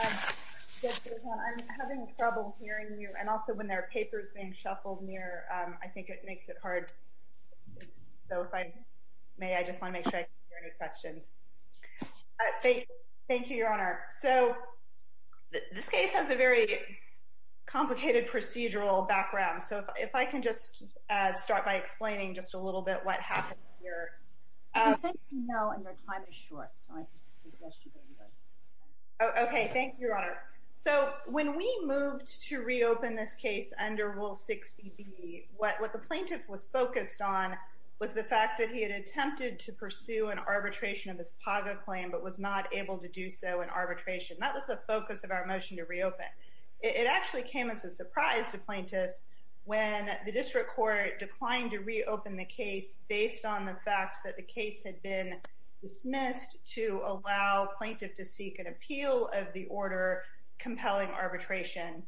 I'm having trouble hearing you, and also when there are papers being shuffled near, I think it makes it hard. So if I may, I just want to make sure I can hear any questions. Thank you, Your Honor. So this case has a very complicated procedural background, so if I can just start by explaining just a little bit what happened here. No, and your time is short, so I suggest you go ahead. Okay, thank you, Your Honor. So when we moved to reopen this case under Rule 60B, what the plaintiff was focused on was the fact that he had attempted to pursue an arbitration of his PAGA claim but was not able to do so in arbitration. That was the focus of our motion to reopen. It actually came as a surprise to plaintiffs when the district court declined to reopen the case based on the fact that the case had been dismissed to allow plaintiff to seek an appeal of the order compelling arbitration.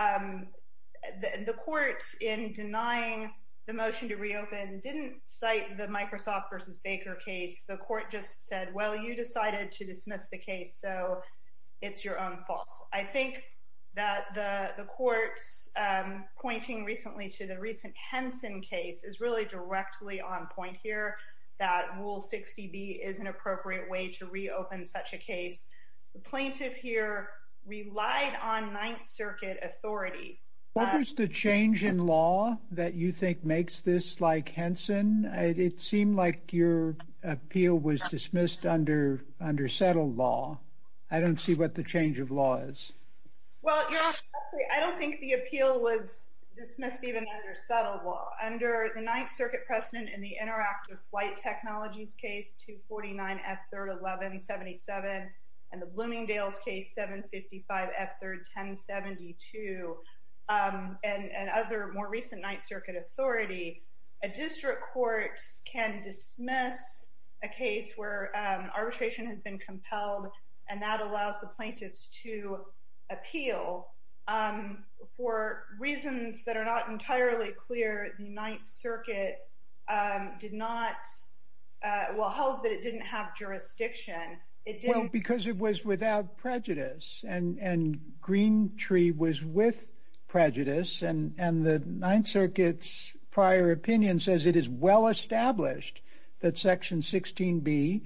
The court, in denying the motion to reopen, didn't cite the Microsoft v. Baker case. The court just said, well, you decided to dismiss the case, so it's your own fault. I think that the court's pointing recently to the recent Henson case is really directly on point here, that Rule 60B is an appropriate way to reopen such a case. The plaintiff here relied on Ninth Circuit authority. What was the change in law that you think makes this like Henson? It seemed like your appeal was dismissed under settled law. I don't see what the change of law is. Well, I don't think the appeal was dismissed even under settled law. Under the Ninth Circuit precedent in the Interactive Flight Technologies case, 249 F-3rd 1177, and the Bloomingdale's case, 755 F-3rd 1072, and other more recent Ninth Circuit authority, a district court can dismiss a case where arbitration has been compelled, and that allows the plaintiffs to appeal. For reasons that are not entirely clear, the Ninth Circuit held that it didn't have jurisdiction. Well, because it was without prejudice, and Green Tree was with prejudice, and the Ninth Circuit's prior opinion says it is well established that Section 16B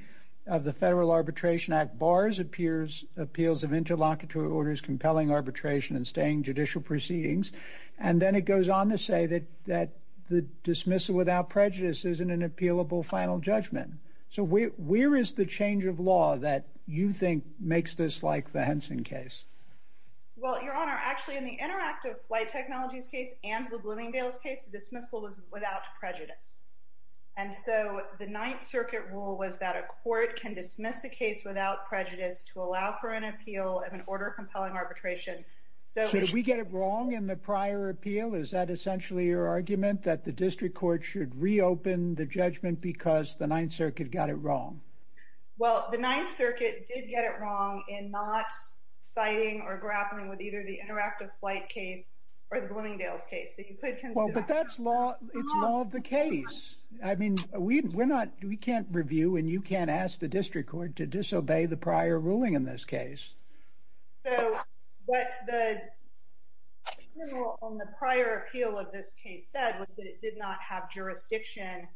of the Federal Arbitration Act bars appeals of interlocutory orders compelling arbitration and staying judicial proceedings, and then it goes on to say that the dismissal without prejudice isn't an appealable final judgment. So where is the change of law that you think makes this like the Henson case? Well, Your Honor, actually in the Interactive Flight Technologies case and the Bloomingdale's case, the dismissal was without prejudice. And so the Ninth Circuit rule was that a court can dismiss a case without prejudice to allow for an appeal of an order compelling arbitration. So did we get it wrong in the prior appeal? Is that essentially your argument, that the district court should reopen the judgment because the Ninth Circuit got it wrong? Well, the Ninth Circuit did get it wrong in not citing or grappling with either the Interactive Flight case or the Bloomingdale's case. Well, but that's law of the case. I mean, we can't review and you can't ask the district court to disobey the prior ruling in this case. So what the rule on the prior appeal of this case said was that it did not have jurisdiction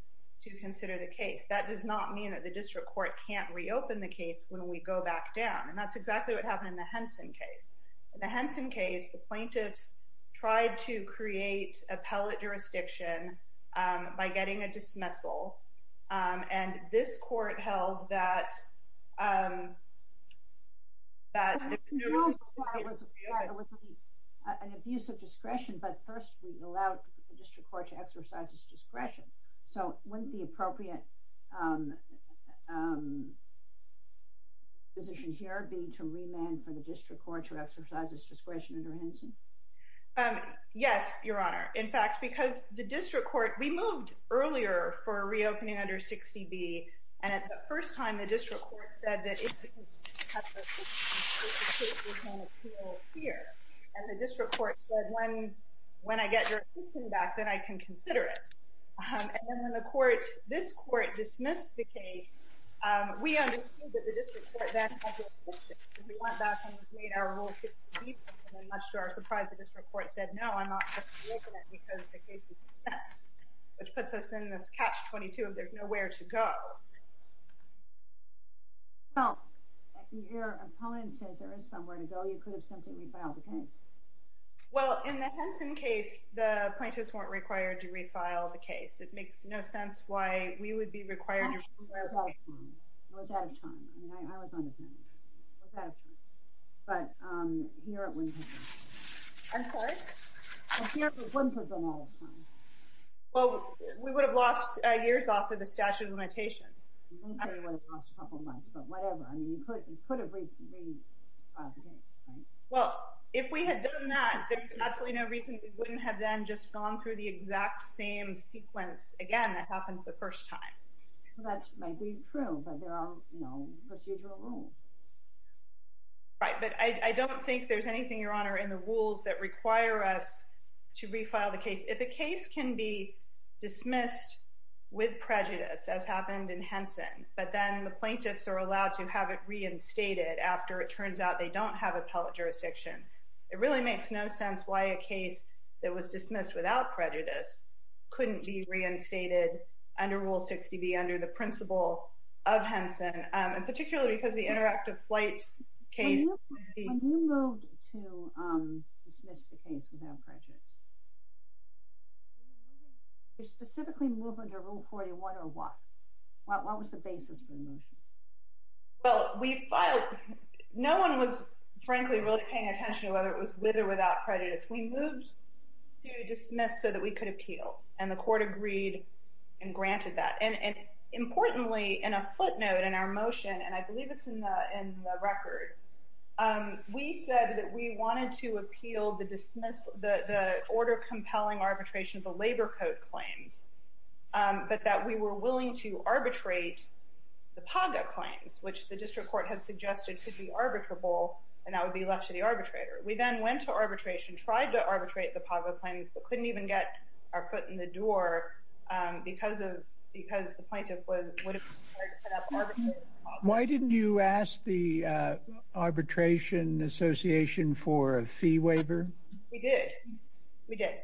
to consider the case. That does not mean that the district court can't reopen the case when we go back down, and that's exactly what happened in the Henson case. In the Henson case, the plaintiffs tried to create appellate jurisdiction by getting a dismissal, and this court held that... It was an abuse of discretion, but first we allowed the district court to exercise its discretion. So wouldn't the appropriate position here be to remand for the district court to exercise its discretion under Henson? Yes, Your Honor. In fact, because the district court... We moved earlier for a reopening under 60B, and at the first time the district court said that... And the district court said, when I get your position back, then I can consider it. And then when this court dismissed the case, we understood that the district court then had jurisdiction. We went back and made our rule 60B, and much to our surprise, the district court said, no, I'm not going to reopen it because the case was dismissed, which puts us in this catch-22 of there's nowhere to go. Well, if your opponent says there is somewhere to go, you could have simply refiled the case. Well, in the Henson case, the plaintiffs weren't required to refile the case. It makes no sense why we would be required to refile the case. I was out of time. I was on the bench. I was out of time. But here it wouldn't have been. I'm sorry? Here it wouldn't have been all the time. Well, we would have lost years off of the statute of limitations. I wouldn't say we would have lost a couple months, but whatever. I mean, you could have refiled the case, right? Well, if we had done that, there's absolutely no reason we wouldn't have then just gone through the exact same sequence again that happened the first time. Well, that might be true, but there are procedural rules. Right, but I don't think there's anything, Your Honor, in the rules that require us to refile the case. If a case can be dismissed with prejudice, as happened in Henson, but then the plaintiffs are allowed to have it reinstated after it turns out they don't have appellate jurisdiction, it really makes no sense why a case that was dismissed without prejudice couldn't be reinstated under Rule 60B under the principle of Henson, and particularly because the Interactive Flight case... When you moved to dismiss the case without prejudice, did you specifically move under Rule 41 or what? Well, we filed... No one was, frankly, really paying attention to whether it was with or without prejudice. We moved to dismiss so that we could appeal, and the Court agreed and granted that. And importantly, in a footnote in our motion, and I believe it's in the record, we said that we wanted to appeal the order-compelling arbitration of the Labor Code claims, but that we were willing to arbitrate the PAGA claims, which the District Court had suggested could be arbitrable, and that would be left to the arbitrator. We then went to arbitration, tried to arbitrate the PAGA claims, but couldn't even get our foot in the door because the plaintiff would have tried to set up arbitration. Why didn't you ask the Arbitration Association for a fee waiver? We did. We did.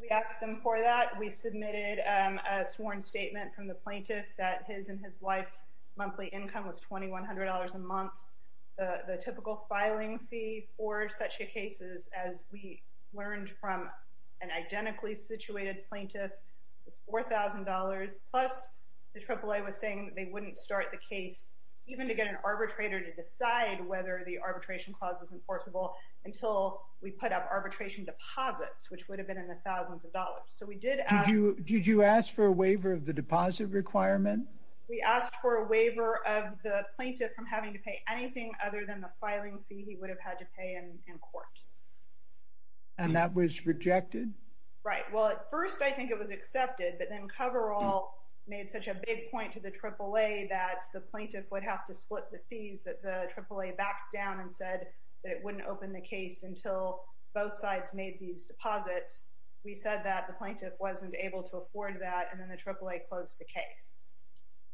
We asked them for that. We submitted a sworn statement from the plaintiff that his and his wife's monthly income was $2,100 a month. The typical filing fee for such cases, as we learned from an identically situated plaintiff, was $4,000, plus the AAA was saying that they wouldn't start the case, even to get an arbitrator to decide whether the arbitration clause was enforceable, until we put up arbitration deposits, which would have been in the thousands of dollars. Did you ask for a waiver of the deposit requirement? We asked for a waiver of the plaintiff from having to pay anything other than the filing fee he would have had to pay in court. And that was rejected? Right. Well, at first I think it was accepted, but then Coverall made such a big point to the AAA that the plaintiff would have to split the fees that the AAA backed down and said that it wouldn't open the case until both sides made these deposits. We said that the plaintiff wasn't able to afford that, and then the AAA closed the case.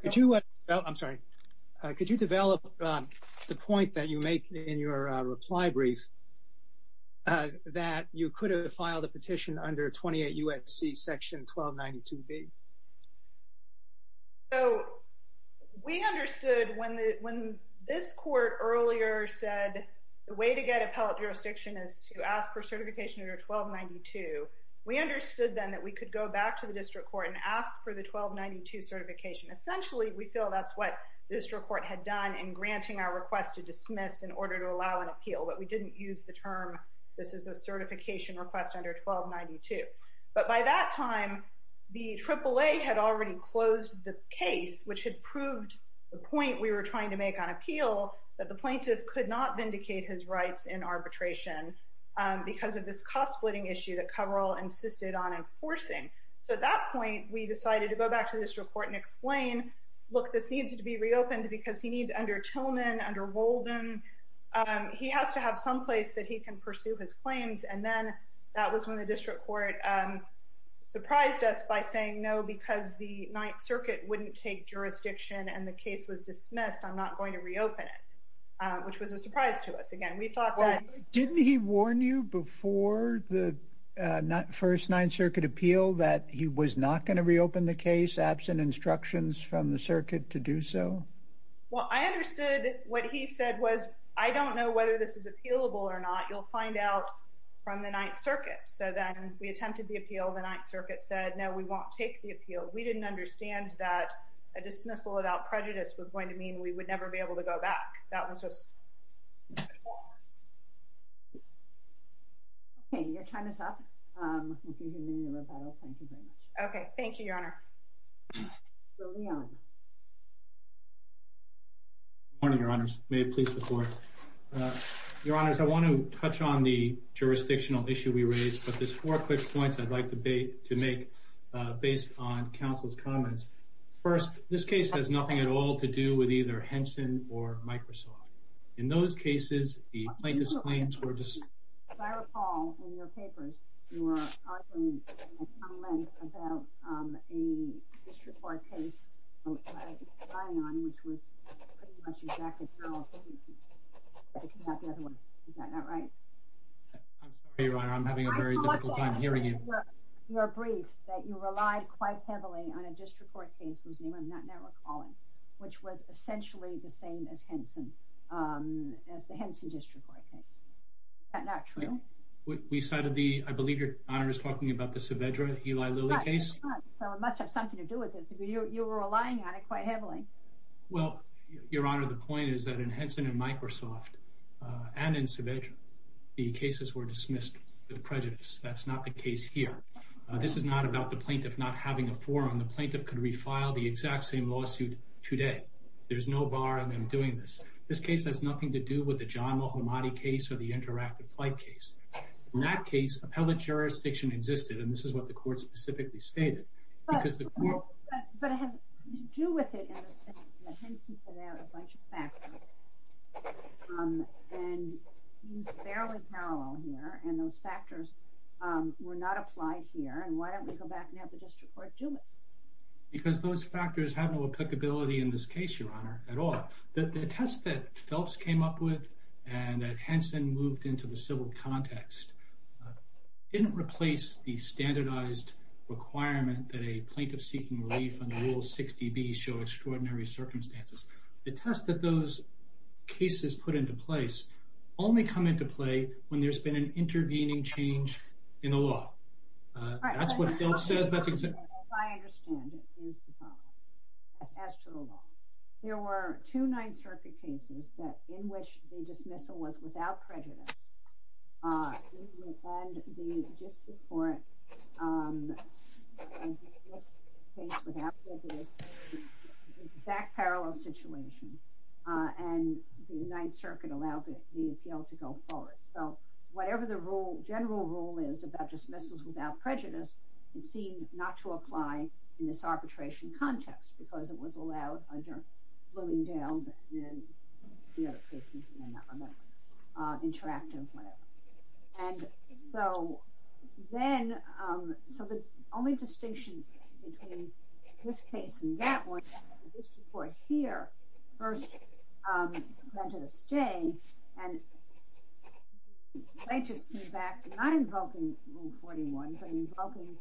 Could you develop the point that you make in your reply brief, that you could have filed a petition under 28 U.S.C. section 1292B? So, we understood when this court earlier said the way to get appellate jurisdiction is to ask for certification under 1292, we understood then that we could go back to the district court and ask for the 1292 certification. Essentially, we feel that's what the district court had done in granting our request to dismiss in order to allow an appeal, but we didn't use the term, this is a certification request under 1292. But by that time, the AAA had already closed the case, which had proved the point we were trying to make on appeal, that the plaintiff could not vindicate his rights in arbitration because of this cost-splitting issue that Coverall insisted on enforcing. So, at that point, we decided to go back to the district court and explain, look, this needs to be reopened because he needs under Tillman, under Wolden, he has to have someplace that he can pursue his claims, and then that was when the district court surprised us by saying, no, because the Ninth Circuit wouldn't take jurisdiction and the case was dismissed, I'm not going to reopen it, which was a surprise to us. Again, we thought that... Didn't he warn you before the first Ninth Circuit appeal that he was not going to reopen the case absent instructions from the circuit to do so? Well, I understood what he said was, I don't know whether this is appealable or not, you'll find out from the Ninth Circuit. So then we attempted the appeal, the Ninth Circuit said, no, we won't take the appeal. We didn't understand that a dismissal without prejudice was going to mean we would never be able to go back. That was just... Okay, your time is up. Okay, thank you, Your Honor. Good morning, Your Honors. May it please the Court. Your Honors, I want to touch on the jurisdictional issue we raised, but there's four quick points I'd like to make based on counsel's comments. First, this case has nothing at all to do with either Henson or Microsoft. In those cases, the plaintiff's claims were... If I recall in your papers, you were arguing a comment about a district court case, which was pretty much exactly how it came out the other way. Is that not right? I'm sorry, Your Honor, I'm having a very difficult time hearing you. Your briefs that you relied quite heavily on a district court case whose name I'm not now recalling, which was essentially the same as Henson, as the Henson district court case. Is that not true? We cited the, I believe Your Honor is talking about the Saavedra Eli Lilly case. It must have something to do with it. You were relying on it quite heavily. Well, Your Honor, the point is that in Henson and Microsoft and in Saavedra, the cases were dismissed with prejudice. That's not the case here. This is not about the plaintiff not having a forum. The plaintiff could refile the exact same lawsuit today. There's no bar in them doing this. This case has nothing to do with the John Mahomadi case or the Interactive Flight case. In that case, appellate jurisdiction existed, and this is what the court specifically stated. But it has to do with it in the sense that Henson set out a bunch of factors, and it's barely parallel here, and those factors were not applied here, and why don't we go back and have the district court do it? Because those factors have no applicability in this case, Your Honor, at all. The test that Phelps came up with and that Henson moved into the civil context didn't replace the standardized requirement that a plaintiff seeking relief under Rule 60B show extraordinary circumstances. The test that those cases put into place only come into play when there's been an intervening change in the law. That's what Phelps says. As I understand it, it is the law, as to the law. There were two Ninth Circuit cases in which the dismissal was without prejudice, and the district court in this case without prejudice, exact parallel situation, and the Ninth Circuit allowed the appeal to go forward. So whatever the general rule is about dismissals without prejudice, it seemed not to apply in this arbitration context because it was allowed under Bloomingdale's and the other cases, and I'm not remembering, Interactive, whatever. And so the only distinction between this case and that one, the district court here first granted a stay, and the plaintiff came back, not invoking Rule 41, but invoking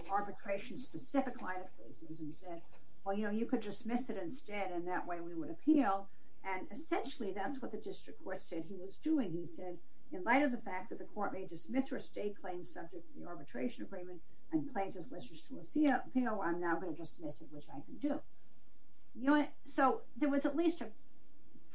the arbitration-specific line of cases and said, well, you know, you could dismiss it instead and that way we would appeal, and essentially that's what the district court said he was doing. He said, in light of the fact that the court may dismiss her stay claim subject to the arbitration agreement and plaintiff wishes to appeal, I'm now going to dismiss it, which I can do. So there was at least a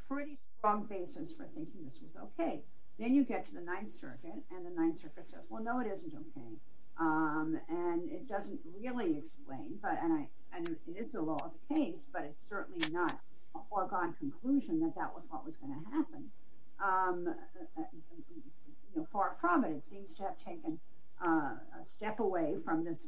pretty strong basis for thinking this was okay. Then you get to the Ninth Circuit, and the Ninth Circuit says, well, no, it isn't okay, and it doesn't really explain, and it is a law of the case, but it's certainly not a foregone conclusion that that was what was going to happen. Far from it, it seems to have taken a step away from this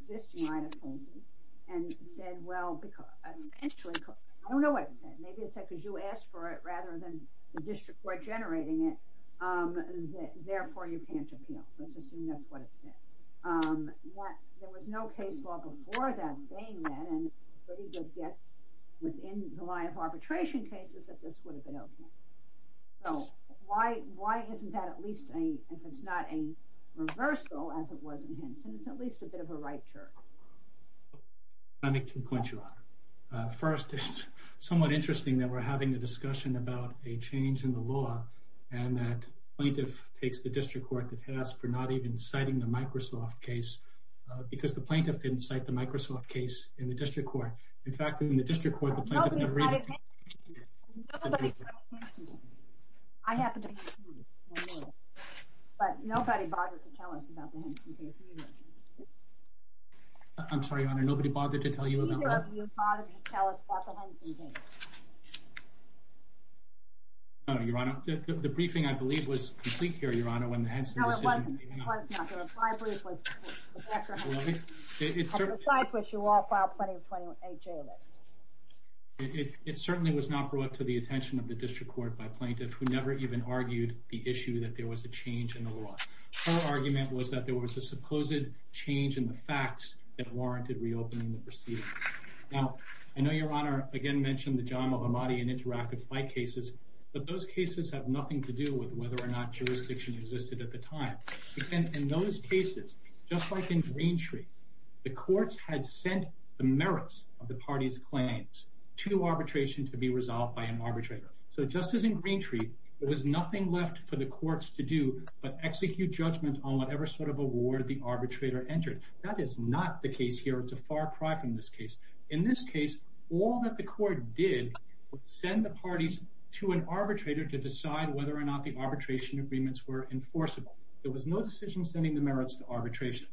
existing line of cases and said, well, I don't know what it said. Maybe it said because you asked for it rather than the district court generating it, therefore you can't appeal. Let's assume that's what it said. There was no case law before that saying that, and a pretty good guess within the line of arbitration cases that this would have been okay. So why isn't that at least a, if it's not a reversal as it was in Henson, it's at least a bit of a right jerk. I can point you on it. First, it's somewhat interesting that we're having a discussion about a change in the law and that the plaintiff takes the district court to task for not even citing the Microsoft case, because the plaintiff didn't cite the Microsoft case in the district court. In fact, in the district court, the plaintiff never even did it. Nobody bothered to tell us about the Henson case. I happened to be in the room. But nobody bothered to tell us about the Henson case either. I'm sorry, Your Honor. Nobody bothered to tell you about that? Neither of you bothered to tell us about the Henson case. No, Your Honor. The briefing, I believe, was complete here, Your Honor, when the Henson decision came out. No, it wasn't. It was not. The reply brief was with Dr. Henson. And besides which, you all filed 20 of 218 jail lists. It certainly was not brought to the attention of the district court by a plaintiff who never even argued the issue that there was a change in the law. Her argument was that there was a supposed change in the facts that warranted reopening the proceeding. Now, I know Your Honor, again, mentioned the John Mohammadi and Interactive Fight cases, but those cases have nothing to do with whether or not jurisdiction existed at the time. In those cases, just like in Green Tree, the courts had sent the merits of the parties' claims to arbitration to be resolved by an arbitrator. So just as in Green Tree, there was nothing left for the courts to do but execute judgment on whatever sort of award the arbitrator entered. That is not the case here. It's a far cry from this case. In this case, all that the court did was send the parties to an arbitrator to decide whether or not the arbitration agreements were enforceable. There was no decision sending the merits to arbitration.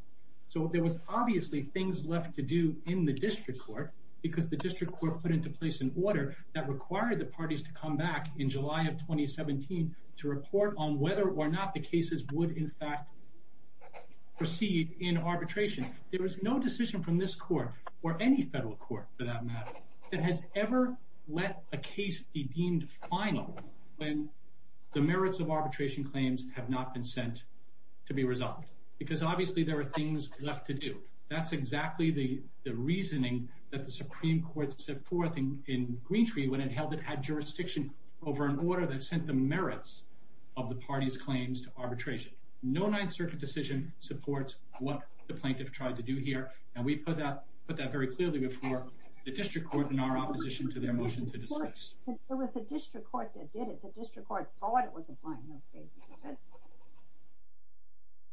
So there was obviously things left to do in the district court because the district court put into place an order that required the parties to come back in July of 2017 to report on whether or not the cases would in fact proceed in arbitration. There was no decision from this court or any federal court for that matter that has ever let a case be deemed final when the merits of arbitration claims have not been sent to be resolved because obviously there are things left to do. That's exactly the reasoning that the Supreme Court set forth in Green Tree when it held it had jurisdiction over an order that sent the merits of the parties' claims to arbitration. No Ninth Circuit decision supports what the plaintiff tried to do here, and we put that very clearly before the district court in our opposition to their motion to dismiss. It was the district court that did it. The district court thought it was a fine-nose case.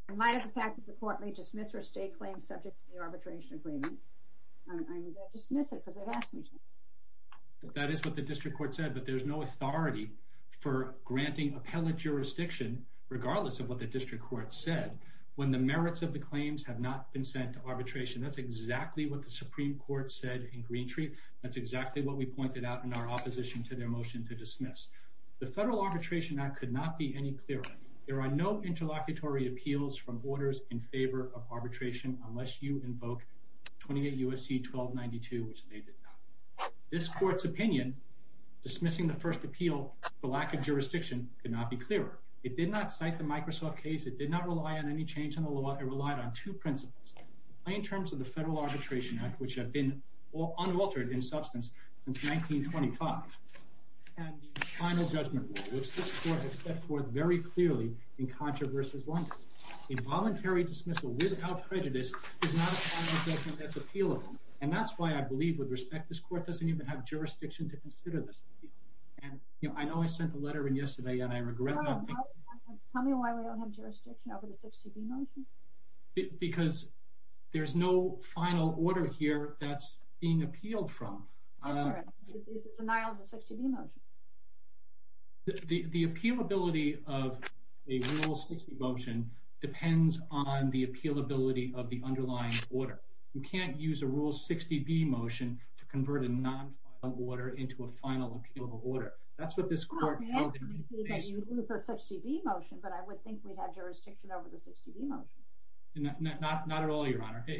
In light of the fact that the court may dismiss or state claims subject to the arbitration agreement, I'm going to dismiss it because it asked me to. That is what the district court said, but there's no authority for granting appellate jurisdiction regardless of what the district court said when the merits of the claims have not been sent to arbitration. That's exactly what the Supreme Court said in Green Tree. That's exactly what we pointed out in our opposition to their motion to dismiss. The Federal Arbitration Act could not be any clearer. There are no interlocutory appeals from orders in favor of arbitration unless you invoke 28 U.S.C. 1292, which they did not. This court's opinion dismissing the first appeal for lack of jurisdiction could not be clearer. It did not cite the Microsoft case. It did not rely on any change in the law. It relied on two principles. In terms of the Federal Arbitration Act, which have been unaltered in substance since 1925, and the final judgment law, which this court has set forth very clearly in Contra v. London, involuntary dismissal without prejudice is not a final judgment that's appealable, and that's why I believe, with respect, this court doesn't even have jurisdiction to consider this appeal. I know I sent a letter in yesterday, and I regret nothing. Tell me why we don't have jurisdiction over the 6TB motion. Because there's no final order here that's being appealed from. It's a denial of the 6TB motion. The appealability of a rule 6TB motion depends on the appealability of the underlying order. You can't use a rule 6TB motion to convert a non-final order into a final appealable order. That's what this court held in the case. I would think we'd have jurisdiction over the 6TB motion.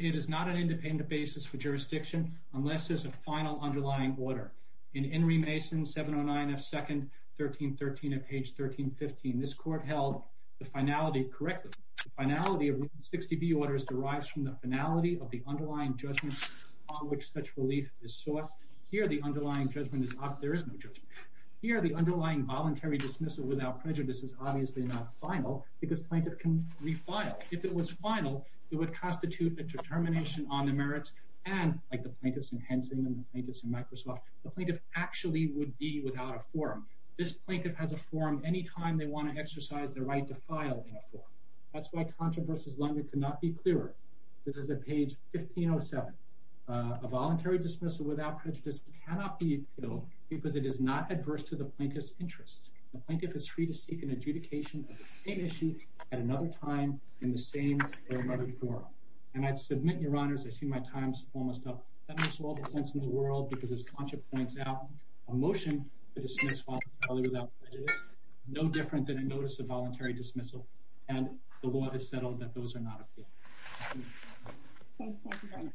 It is not an independent basis for jurisdiction unless there's a final underlying order. In In re Mason, 709 of 2nd, 1313 of page 1315, this court held the finality correctly. The finality of rule 6TB orders derives from the finality of the underlying judgment on which such relief is sought. Here, the underlying judgment is not, there is no judgment. Here, the underlying voluntary dismissal without prejudice is obviously not final, because plaintiff can refile. If it was final, it would constitute a determination on the merits, and, like the plaintiffs in Henson and the plaintiffs in Microsoft, the plaintiff actually would be without a forum. This plaintiff has a forum any time they want to exercise their right to file in a forum. That's why Contra v. Lundgren could not be clearer. This is at page 1507. A voluntary dismissal without prejudice cannot be appealed because it is not adverse to the plaintiff's interests. The plaintiff is free to seek an adjudication of the same issue at another time in the same or another forum. And I submit, Your Honors, I see my time's almost up. That makes all the sense in the world, because as Contra points out, a motion to dismiss voluntarily without prejudice is no different than a notice of voluntary dismissal, and the law has settled that those are not appealed. Your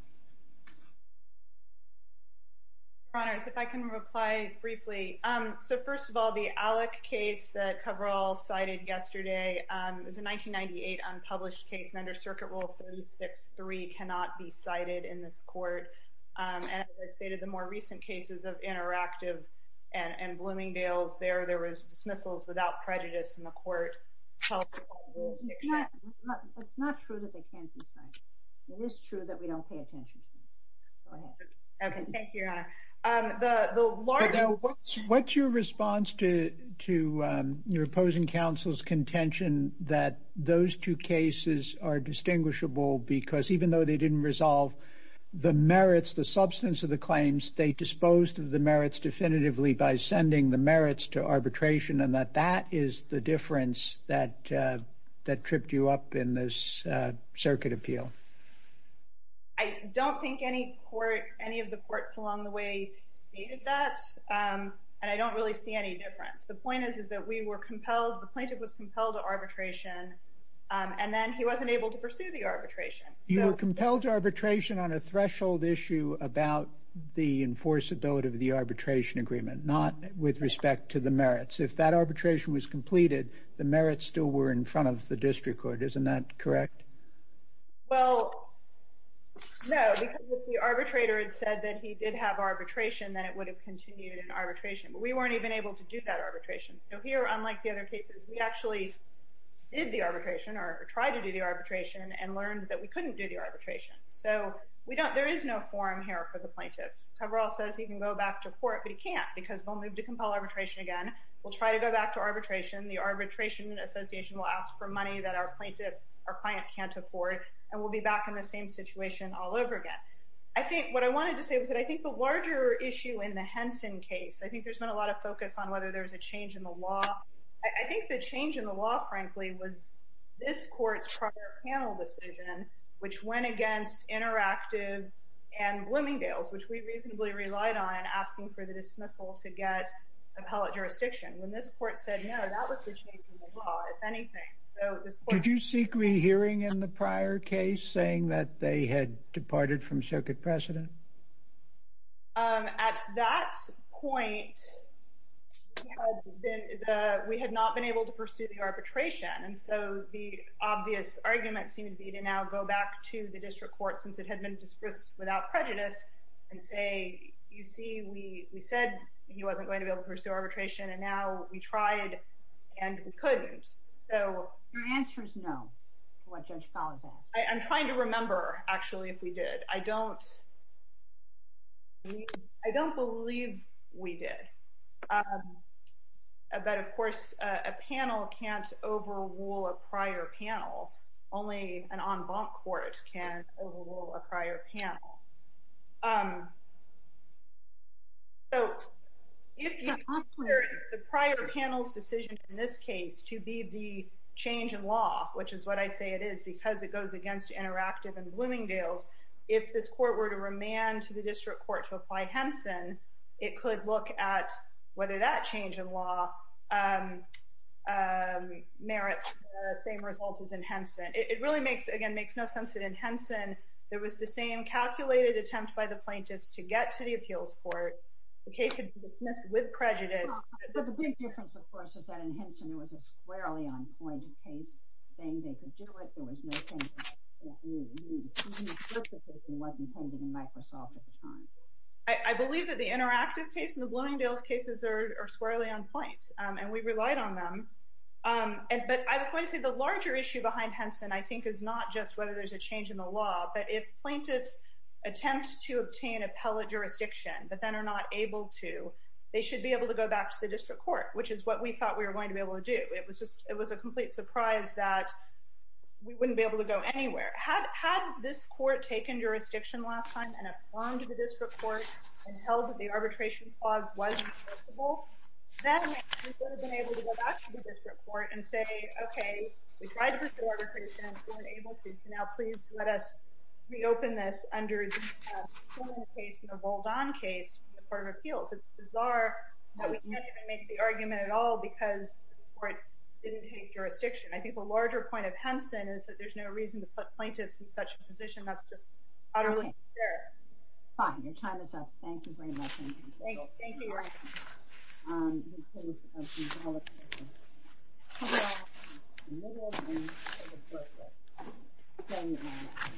Honors, if I can reply briefly. So first of all, the ALEC case that Kavral cited yesterday is a 1998 unpublished case, and under Circuit Rule 36-3, cannot be cited in this court. And as I stated, the more recent cases of Interactive and Bloomingdale's there, there was dismissals without prejudice in the court. It's not true that they can't be cited. It is true that we don't pay attention to them. Go ahead. Okay, thank you, Your Honor. What's your response to your opposing counsel's contention that those two cases are distinguishable, because even though they didn't resolve the merits, the substance of the claims, they disposed of the merits definitively by sending the merits to arbitration, and that that is the difference that tripped you up in this circuit appeal? I don't think any of the courts along the way stated that, and I don't really see any difference. The point is that we were compelled, the plaintiff was compelled to arbitration, and then he wasn't able to pursue the arbitration. You were compelled to arbitration on a threshold issue about the enforceability of the arbitration agreement, not with respect to the merits. If that arbitration was completed, the merits still were in front of the district court. Isn't that correct? Well, no, because if the arbitrator had said that he did have arbitration, then it would have continued in arbitration, but we weren't even able to do that arbitration. So here, unlike the other cases, we actually did the arbitration, or tried to do the arbitration, and learned that we couldn't do the arbitration. So there is no forum here for the plaintiff. Coverall says he can go back to court, but he can't, because they'll move to compel arbitration again. We'll try to go back to arbitration. The arbitration association will ask for money that our client can't afford, and we'll be back in the same situation all over again. I think what I wanted to say was that I think the larger issue in the Henson case, I think there's been a lot of focus on whether there's a change in the law. I think the change in the law, frankly, was this court's prior panel decision, which went against Interactive and Bloomingdale's, which we reasonably relied on in asking for the dismissal to get appellate jurisdiction. When this court said, no, that was the change in the law, if anything. So this court... Did you seek rehearing in the prior case, saying that they had departed from circuit precedent? At that point, we had not been able to pursue the arbitration, and so the obvious argument seemed to be to now go back to the district court, since it had been dismissed without prejudice, and say, you see, we said he wasn't going to be able to pursue arbitration, and now we tried, and we couldn't. So... Your answer is no to what Judge Collins asked. I'm trying to remember, actually, if we did. I don't... I don't believe we did. But, of course, a panel can't overrule a prior panel. Only an en banc court can overrule a prior panel. So, if the prior panel's decision, in this case, to be the change in law, which is what I say it is, because it goes against Interactive and Bloomingdale's, if this court were to remand to the district court to apply Henson, it could look at whether that change in law merits the same result as in Henson. It really, again, makes no sense that in Henson, there was the same calculated attempt by the plaintiffs to get to the appeals court. The case could be dismissed with prejudice. There's a big difference, of course, is that in Henson, there was a squarely on point case, saying they could do it. There was no chance of that being removed, even if the petition wasn't pending in Microsoft at the time. I believe that the Interactive case and the Bloomingdale's cases are squarely on point, and we relied on them. But I was going to say the larger issue behind Henson, I think, is not just whether there's a change in the law, but if plaintiffs attempt to obtain appellate jurisdiction but then are not able to, they should be able to go back to the district court, which is what we thought we were going to be able to do. It was a complete surprise that we wouldn't be able to go anywhere. Had this court taken jurisdiction last time and affirmed to the district court and held that the arbitration clause was reversible, then we would have been able to go back to the district court and say, OK, we tried to pursue arbitration, we weren't able to, so now please let us reopen this under the Solano case and the Voldon case in the Court of Appeals. It's bizarre that we can't even make the argument at all because the court didn't take jurisdiction. I think the larger point of Henson is that there's no reason to put plaintiffs in such a position. That's just utterly unfair. Fine. Your time is up. Thank you very much. Thank you.